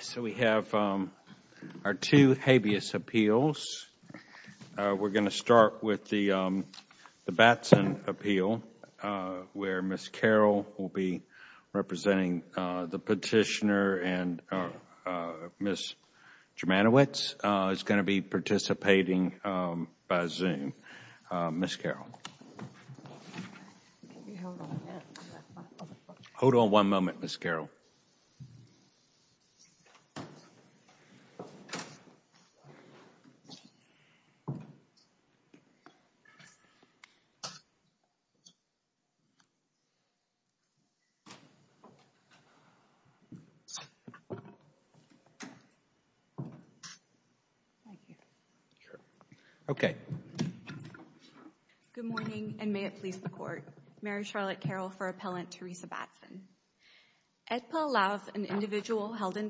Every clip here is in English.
So we have our two habeas appeals. We're going to start with the Batson appeal where Ms. Carroll will be representing the petitioner and Ms. Germanowicz is going to be participating by Zoom. Ms. Carroll. Hold on one moment, Ms. Carroll. Good morning, and may it please the Court, Mary Charlotte Carroll for Appellant Teresa Batson. My name is Mary Charlotte Carroll for Appellant Teresa Batson, and I'm going to be representing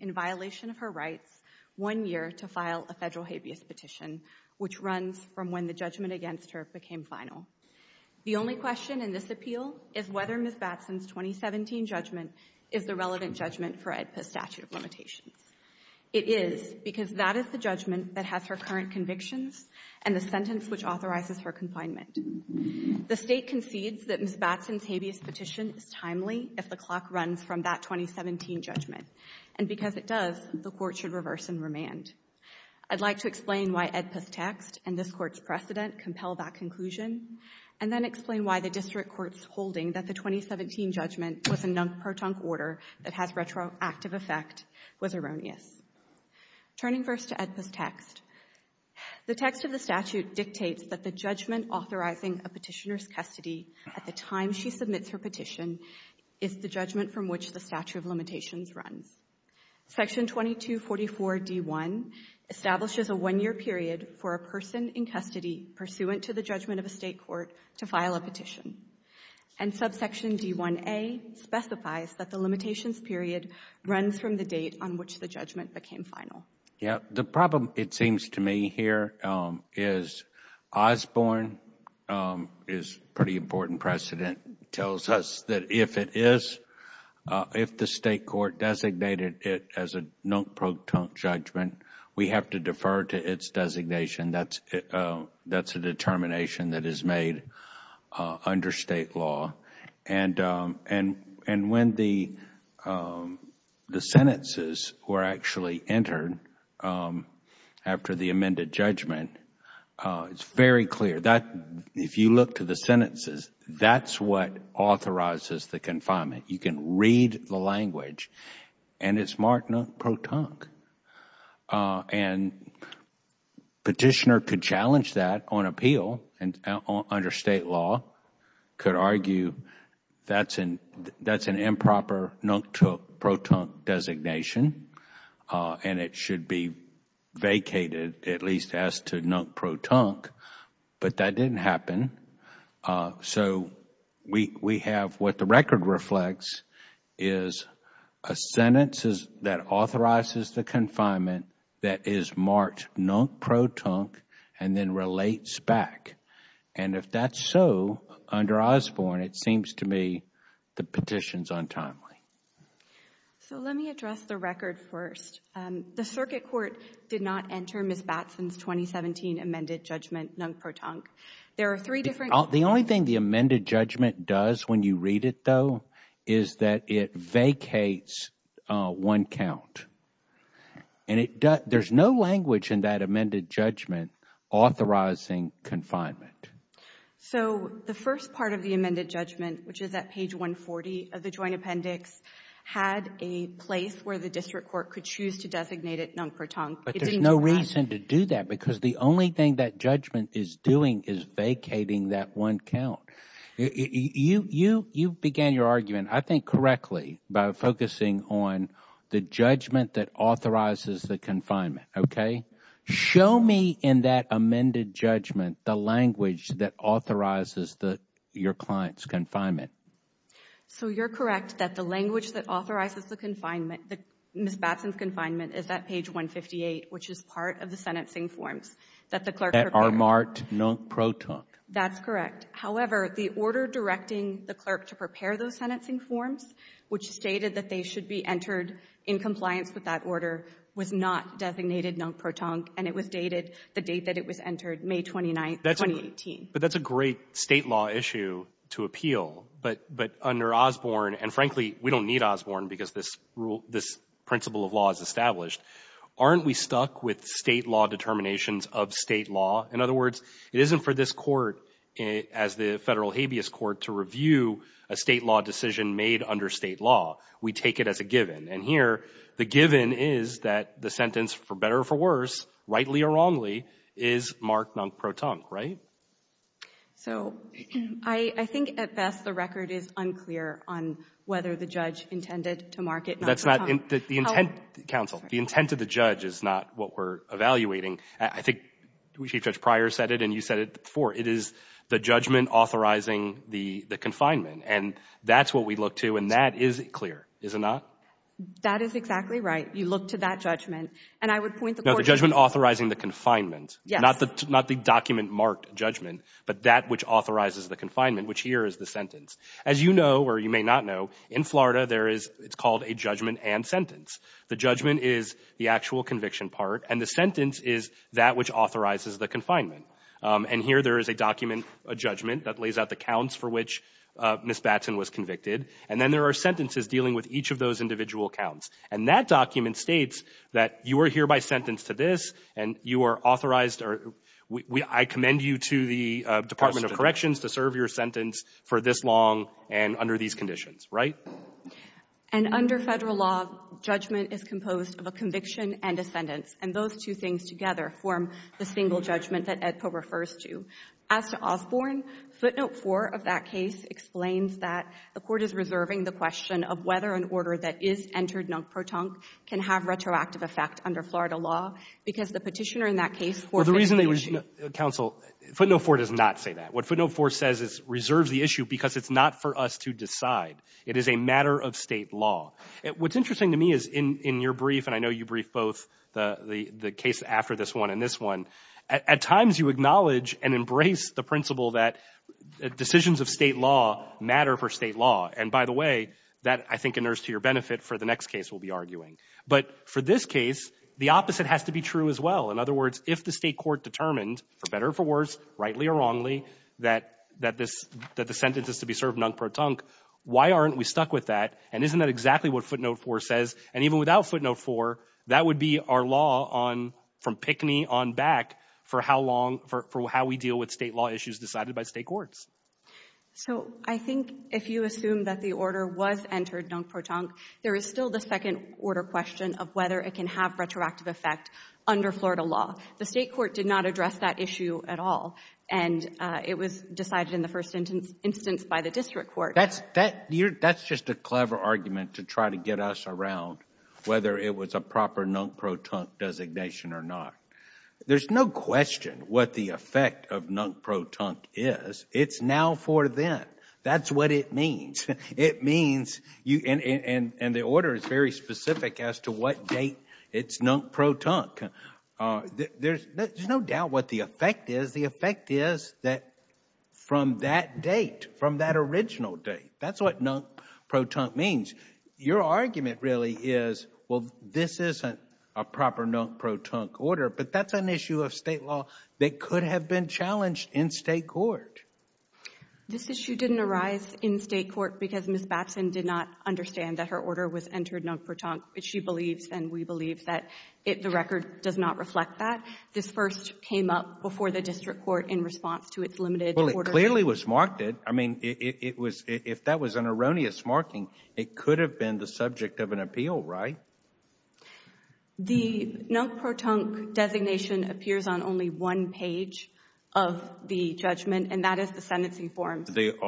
Ms. Germanowicz, and I'm going to be representing Ms. Germanowicz, and I'm going to be representing Ms. Germanowicz, and I'm going to be representing Ms. Germanowicz, and I'm going to be representing is the judgment from which the statute of limitations runs. Section 2244 D1 establishes a one-year period for a person in custody pursuant to the judgment of a state court to file a petition, and subsection D1A specifies that the limitations period runs from the date on which the judgment became final. Yeah, the problem it seems to me here is Osborne is a pretty important precedent. It tells us that if it is, if the state court designated it as a non-proton judgment, we have to defer to its designation. That's a determination that is made under state law. And when the sentences were actually entered after the judgment, it is very clear that if you look to the sentences, that is what authorizes the confinement. You can read the language, and it is marked non-proton. The petitioner could challenge that on appeal under state law, could argue that is an improper non-proton designation, and it should be vacated, at least as to non-proton, but that didn't happen. So we have what the record reflects is a sentence that authorizes the confinement that is marked non-proton and then relates back. And if that is so, under Osborne, it seems to me the petition is untimely. So let me address the record first. The circuit court did not enter Ms. Batson's 2017 amended judgment non-proton. The only thing the amended judgment does when you read it, though, is that it vacates one count. There is no language in that amended judgment authorizing confinement. So the first part of the amended judgment, which is at page 140 of the joint appendix, had a place where the district court could choose to designate it non-proton. But there is no reason to do that because the only thing that judgment is doing is vacating that one count. You began your argument, I think, correctly by focusing on the judgment that authorizes the confinement, okay? Show me in that amended judgment the language that authorizes your client's confinement. So you're correct that the language that authorizes the confinement, Ms. Batson's confinement, is at page 158, which is part of the sentencing forms that the clerk prepared. That are marked non-proton. That's correct. However, the order directing the clerk to prepare those sentencing forms, which stated that they should be entered in compliance with that order, was not designated non-proton and it was dated the date that it was entered, May 29, 2018. But that's a great state law issue to appeal. But under Osborne, and frankly, we don't need Osborne because this rule, this principle of law is established. Aren't we stuck with state law determinations of state law? In other words, it isn't for this court as the federal habeas court to review a state law decision made under state law. We take it as a given. And here, the given is that the sentence, for better or for worse, rightly or wrongly, is marked non-proton, right? So I think at best the record is unclear on whether the judge intended to mark it non-proton. That's not the intent, counsel. The intent of the judge is not what we're evaluating. I think Chief Judge Pryor said it and you said it before. It is the judgment authorizing the confinement. And that's what we look to and that is clear, is it not? That is exactly right. You look to that judgment. And I would point the court to... No, the judgment authorizing the confinement. Yes. Not the document marked judgment, but that which authorizes the confinement, which here is the sentence. As you know, or you may not know, in Florida, there is, it's called a judgment and sentence. The judgment is the actual conviction part and the sentence is that which authorizes the confinement. And here there is a document, a judgment that lays out the counts for which Ms. Batson was convicted. And then there are sentences dealing with each of those individual counts. And that document states that you are hereby sentenced to this and you are authorized or I commend you to the Department of Corrections to serve your sentence for this long and under these conditions, right? And under Federal law, judgment is composed of a conviction and a sentence. And those two things together form the single judgment that AEDPA refers to. As to Osborne, footnote 4 of that case explains that the court is reserving the question of whether an order that is entered non-proton can have retroactive effect under Florida law because the petitioner in that case for the reason they were counsel footnote 4 does not say that what footnote 4 says is reserves the issue because it's not for us to decide. It is a matter of state law. What's interesting to me is in your brief, and I know you brief both the case after this one and this one, at times you acknowledge and embrace the principle that decisions of state law matter for state law. And by the way, that, I think, inerts to your benefit for the next case we'll be arguing. But for this case, the opposite has to be true as well. In other words, if the state court determined, for better or for worse, rightly or wrongly, that the sentence is to be served non-proton, why aren't we stuck with that? And isn't that exactly what footnote 4 says? And even without footnote 4, that would be our law from pickney on back for how long, for how we deal with state law issues decided by state courts. So I think if you assume that the order was entered non-proton, there is still the second order question of whether it can have retroactive effect under Florida law. The state court did not address that issue at all, and it was decided in the first instance by the district court. That's just a clever argument to try to get us around whether it was a proper non-proton designation or not. There's no question what the effect of non-proton is. It's now for then. That's what it means. It means, and the order is very specific as to what date it's non-proton. There's no doubt what the effect is. The effect is that from that date, from that original date, that's what non-proton means. Your argument really is, well, this isn't a proper non-proton order, but that's an issue of state law that could have been challenged in state court. This issue didn't arise in state court because Ms. Batson did not understand that her order was entered non-proton. She believes and we believe that the record does not reflect that. This first came up before the district court in response to its limited order. It clearly was marked it. I mean, if that was an erroneous marking, it could have been the subject of an appeal, right? The non-proton designation appears on only one page of the judgment and that is the sentencing form. The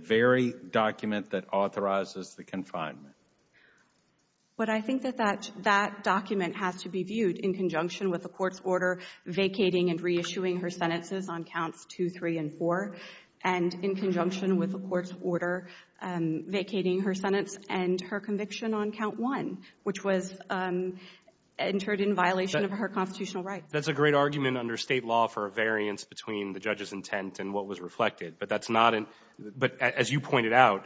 very document that authorizes the confinement. But I think that that document has to be viewed in conjunction with the court's order vacating and reissuing her sentences on counts 2, 3, and 4, and in conjunction with the court's order vacating her sentence and her conviction on count 1, which was entered in violation of her constitutional rights. That's a great argument under state law for a variance between the judge's intent and what was reflected. But that's not an — but as you pointed out,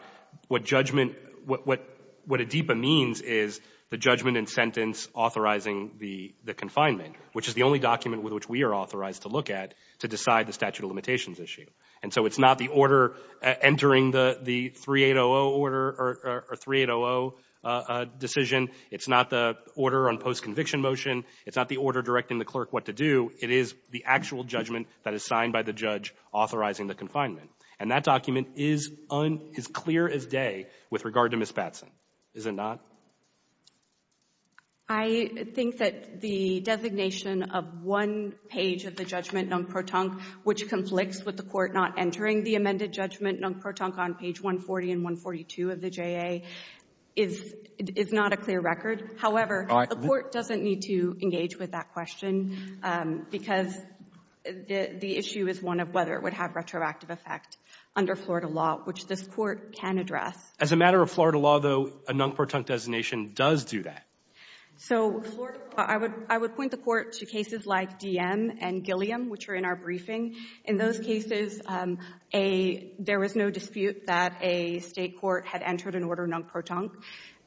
what judgment — what ADEEPA means is the judgment and sentence authorizing the confinement, which is the only document with which we are authorized to look at to decide the statute of limitations issue. And so it's not the order entering the 3800 order or 3800 decision. It's not the order on post-conviction motion. It's not the order directing the clerk what to do. It is the actual judgment that is signed by the judge authorizing the confinement. And that document is clear as day with regard to Ms. Batson, is it not? I think that the designation of one page of the judgment non-protonque, which conflicts with the court not entering the amended judgment non-protonque on page 140 and 142 of the J.A., is not a clear record. However, the court doesn't need to engage with that question because the issue is one of whether it would have retroactive effect under Florida law, which this court can address. As a matter of Florida law, though, a non-protonque designation does do that. So I would point the court to cases like Diem and Gilliam, which are in our briefing. In those cases, there was no dispute that a state court had entered an order non-protonque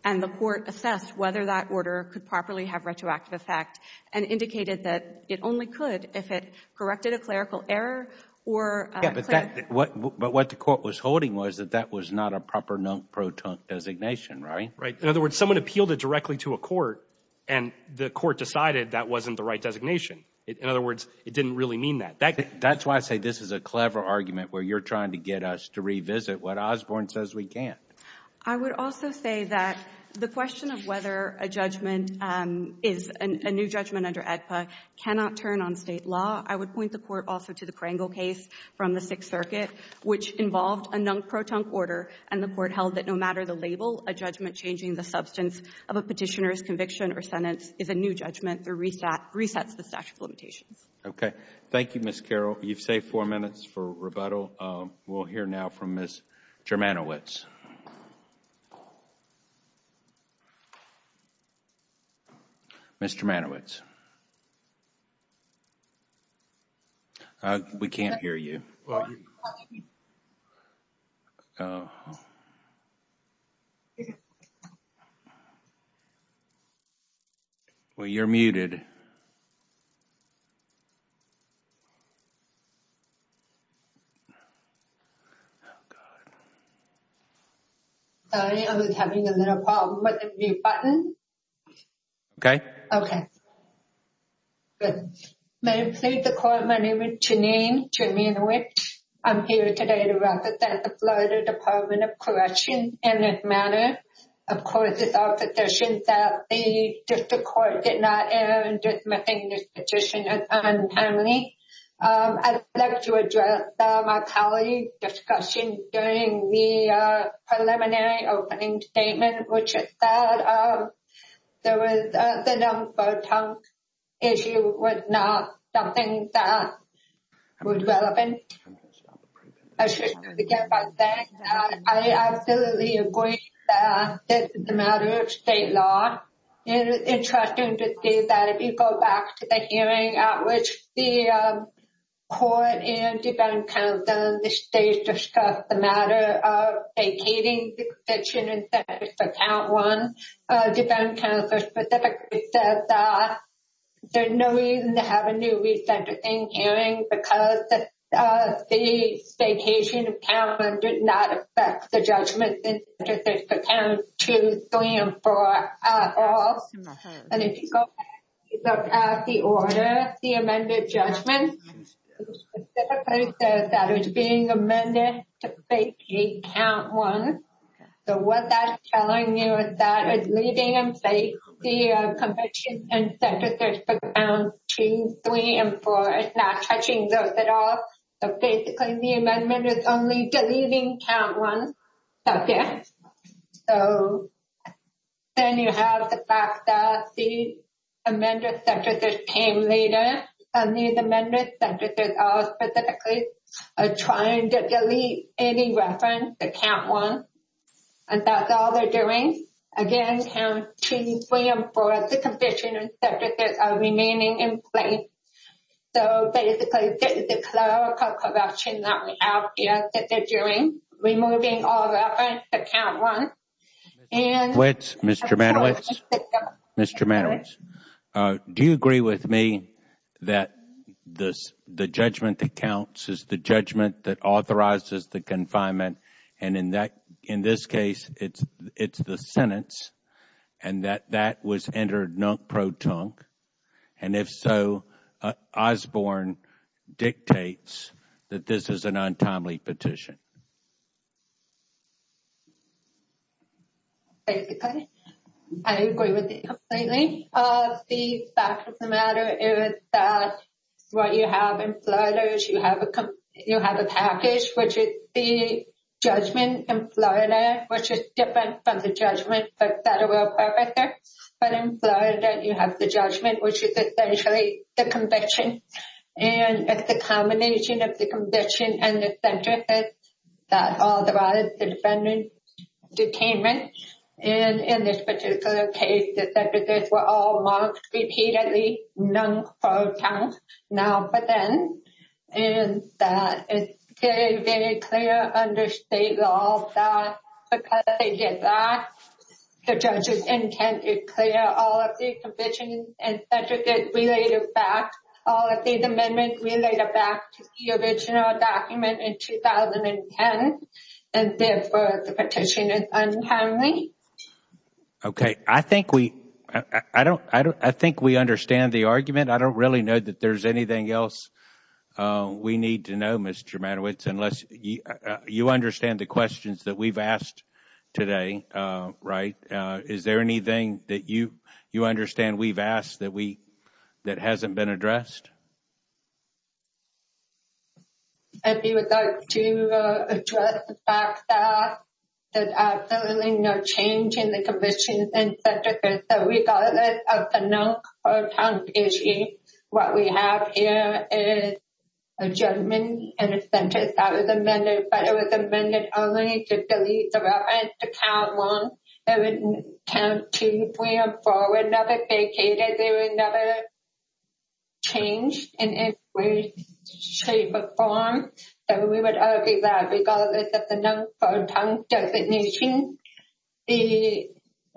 and the court assessed whether that order could properly have retroactive effect and indicated that it only could if it corrected a clerical error or a clerical error. But what the court was holding was that that was not a proper non-protonque designation, right? Right. In other words, someone appealed it directly to a court and the court decided that wasn't the right designation. In other words, it didn't really mean that. That's why I say this is a clever argument where you're trying to get us to revisit what Osborne says we can't. I would also say that the question of whether a judgment is a new judgment under AEDPA cannot turn on state law. I would point the court also to the Krangel case from the Sixth Circuit, which involved a non-protonque order and the court held that no matter the label, a judgment changing the substance of a petitioner's conviction or sentence is a new judgment or resets the statute of limitations. Okay. Thank you, Ms. Carroll. You've saved four minutes for rebuttal. We'll hear now from Ms. Germanowicz. Ms. Germanowicz? We can't hear you. Well, you're muted. Sorry, I was having a little problem with the mute button. Okay. Okay. Good. May it please the court, my name is Janine Germanowicz. I'm here today to represent the Florida Department of Corrections and this matter. Of course, it's our position that the district court did not err in dismissing this petition as untimely. I'd like to address my colleague's discussion during the preliminary opening statement, which is that the non-protonque issue was not something that was relevant. I should begin by saying that I absolutely agree that this is a matter of state law. It is interesting to see that if you go back to the hearing at which the court and defense counsel in the states discussed the matter of vacating the conviction and sentence for count one, defense counsel specifically said that there's no reason to have a new resentencing hearing because the vacation of count one did not affect the judgment sentence for count two, three, and four at all. And if you go back and look at the order, the amended judgment, it specifically says that it's being amended to vacate count one. So what that's telling you is that it's leaving in place the conviction and sentence for count two, three, and four. It's not touching those at all. So basically, the amendment is only deleting count one. So then you have the fact that the amended sentences came later. And these amended sentences are specifically trying to delete any reference to count one. And that's all they're doing. Again, count two, three, and four, the conviction and sentences are remaining in place. So basically, this is the clerical corruption that we have here that they're doing, removing all reference to count one. Mr. Manowitz, do you agree with me that the judgment that counts is the judgment that authorizes the confinement? And in this case, it's the sentence, and that that was entered non-proton. And if so, Osborne dictates that this is an untimely petition. Basically, I agree with you completely. The fact of the matter is that what you have in Florida is you have a package, which is the judgment in Florida, which is different from the judgment for federal purposes. But in Florida, you have the judgment, which is essentially the conviction. And it's the combination of the conviction and the sentences that authorizes the defendant's detainment. And in this particular case, the sentences were all marked repeatedly, non-proton, now And it's very, very clear under state law that because they did that, the judge's intent is clear. All of the convictions and sentences related back, all of these amendments related back to the original document in 2010. And therefore, the petition is untimely. Okay. I think we understand the argument. I don't really know that there's anything else we need to know, Mr. Manowitz, unless you understand the questions that we've asked today. Right? Is there anything that you understand we've asked that hasn't been addressed? I would like to address the fact that there's absolutely no change in the convictions and sentences. So regardless of the non-proton issue, what we have here is a judgment and a sentence that was amended. But it was amended only to delete the reference to count one. It wouldn't count two, three, or four. It never vacated. There was never change in any way, shape, or form. So we would argue that regardless of the non-proton designation, there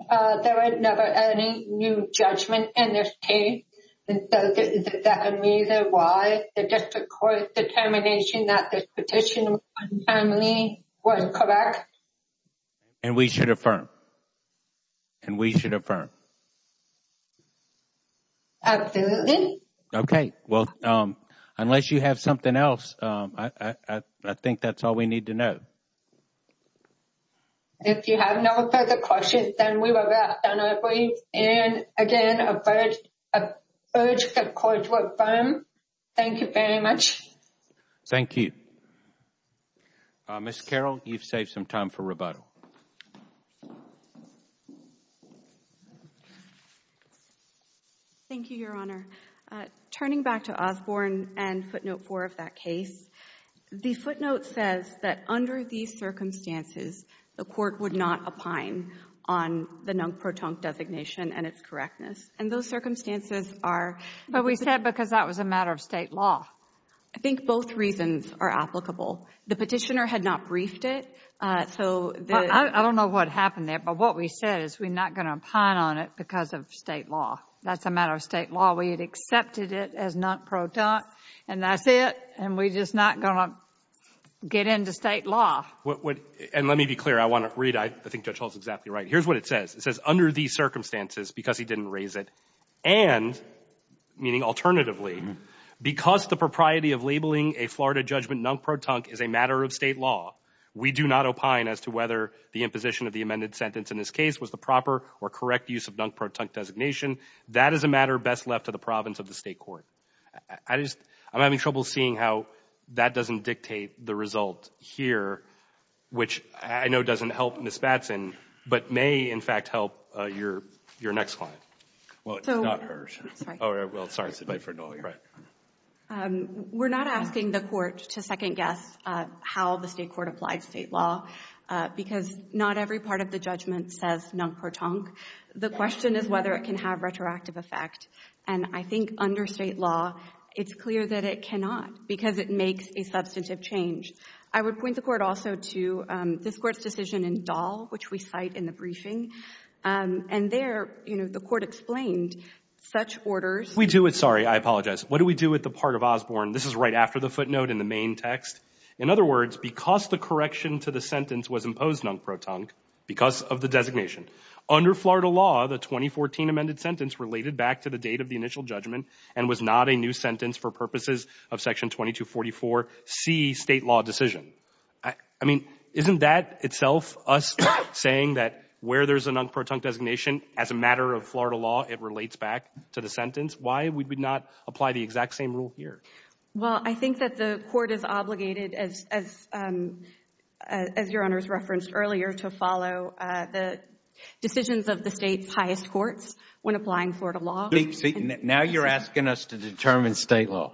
was no change in the sentence and there was never any new judgment in this case. And so is that a reason why the district court's determination that this petition was untimely was correct? And we should affirm. And we should affirm. Absolutely. Well, unless you have something else, I think that's all we need to know. If you have no further questions, then we will wrap that up, please. And again, I urge the court to affirm. Thank you very much. Thank you. Ms. Carroll, you've saved some time for rebuttal. Thank you, Your Honor. Turning back to Osborne and Footnote 4 of that case, the footnote says that under these circumstances, the court would not opine on the non-proton designation and its correctness. And those circumstances are— But we said because that was a matter of State law. I think both reasons are applicable. The petitioner had not briefed it, so— I don't know what happened there, but what we said is we're not going to opine on it because of State law. That's a matter of State law. We had accepted it as non-proton, and that's it. And we're just not going to get into State law. And let me be clear. I want to read. I think Judge Hall is exactly right. Here's what it says. It says, under these circumstances, because he didn't raise it, and meaning alternatively, because the propriety of labeling a Florida judgment non-proton is a matter of State law, we do not opine as to whether the imposition of the amended sentence in this case was the proper or correct use of non-proton designation. That is a matter best left to the province of the State court. I just — I'm having trouble seeing how that doesn't dictate the result here, which I know doesn't help Ms. Batson, but may, in fact, help your — your next client. Well, it's not hers. I'm sorry. Oh, well, sorry. Right. We're not asking the Court to second-guess how the State court applied State law, because not every part of the judgment says non-proton. The question is whether it can have retroactive effect. And I think under State law, it's clear that it cannot, because it makes a substantive change. I would point the Court also to this Court's decision in Dahl, which we cite in the And there, you know, the Court explained such orders. We do it — sorry, I apologize. What do we do with the part of Osborne? This is right after the footnote in the main text. In other words, because the correction to the sentence was imposed non-proton, because of the designation, under Florida law, the 2014 amended sentence related back to the date of the initial judgment and was not a new sentence for purposes of Section 2244C State law decision. I mean, isn't that itself us saying that where there's a non-proton designation, as a matter of Florida law, it relates back to the sentence? Why would we not apply the exact same rule here? Well, I think that the Court is obligated, as your Honors referenced earlier, to follow the decisions of the State's highest courts when applying Florida law. Now you're asking us to determine State law.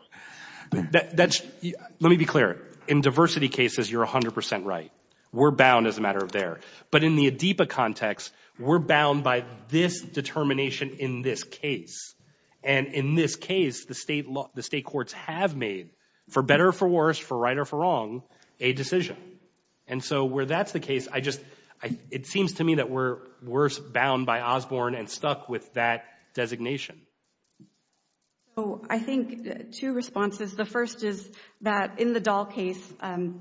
That's — let me be clear. In diversity cases, you're 100 percent right. We're bound as a matter of there. But in the ADIPA context, we're bound by this determination in this case. And in this case, the State courts have made, for better or for worse, for right or for wrong, a decision. And so where that's the case, I just — it seems to me that we're worse bound by Osborne and stuck with that designation. So I think two responses. The first is that in the Dahl case,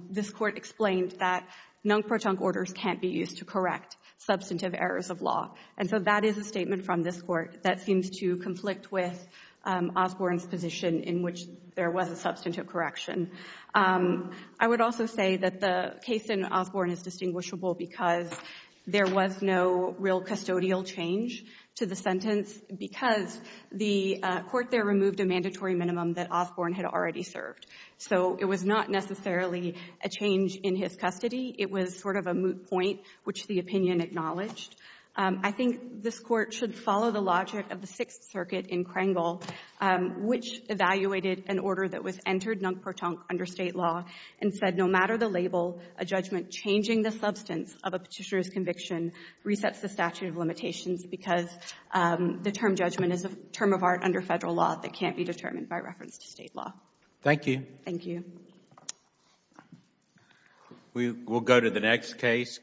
this Court explained that non-proton orders can't be used to correct substantive errors of law. And so that is a statement from this Court that seems to conflict with Osborne's position in which there was a substantive correction. I would also say that the case in Osborne is distinguishable because there was no real custodial change to the sentence because the Court there removed a mandatory minimum that Osborne had already served. So it was not necessarily a change in his custody. It was sort of a moot point, which the opinion acknowledged. I think this Court should follow the logic of the Sixth Circuit in Kringle, which evaluated an order that was entered non-proton under State law and said, no matter the label, a judgment changing the substance of a petitioner's conviction resets the statute of limitations because the term judgment is a term of art under Federal law that can't be determined by reference to State law. Thank you. Thank you. We'll go to the next case.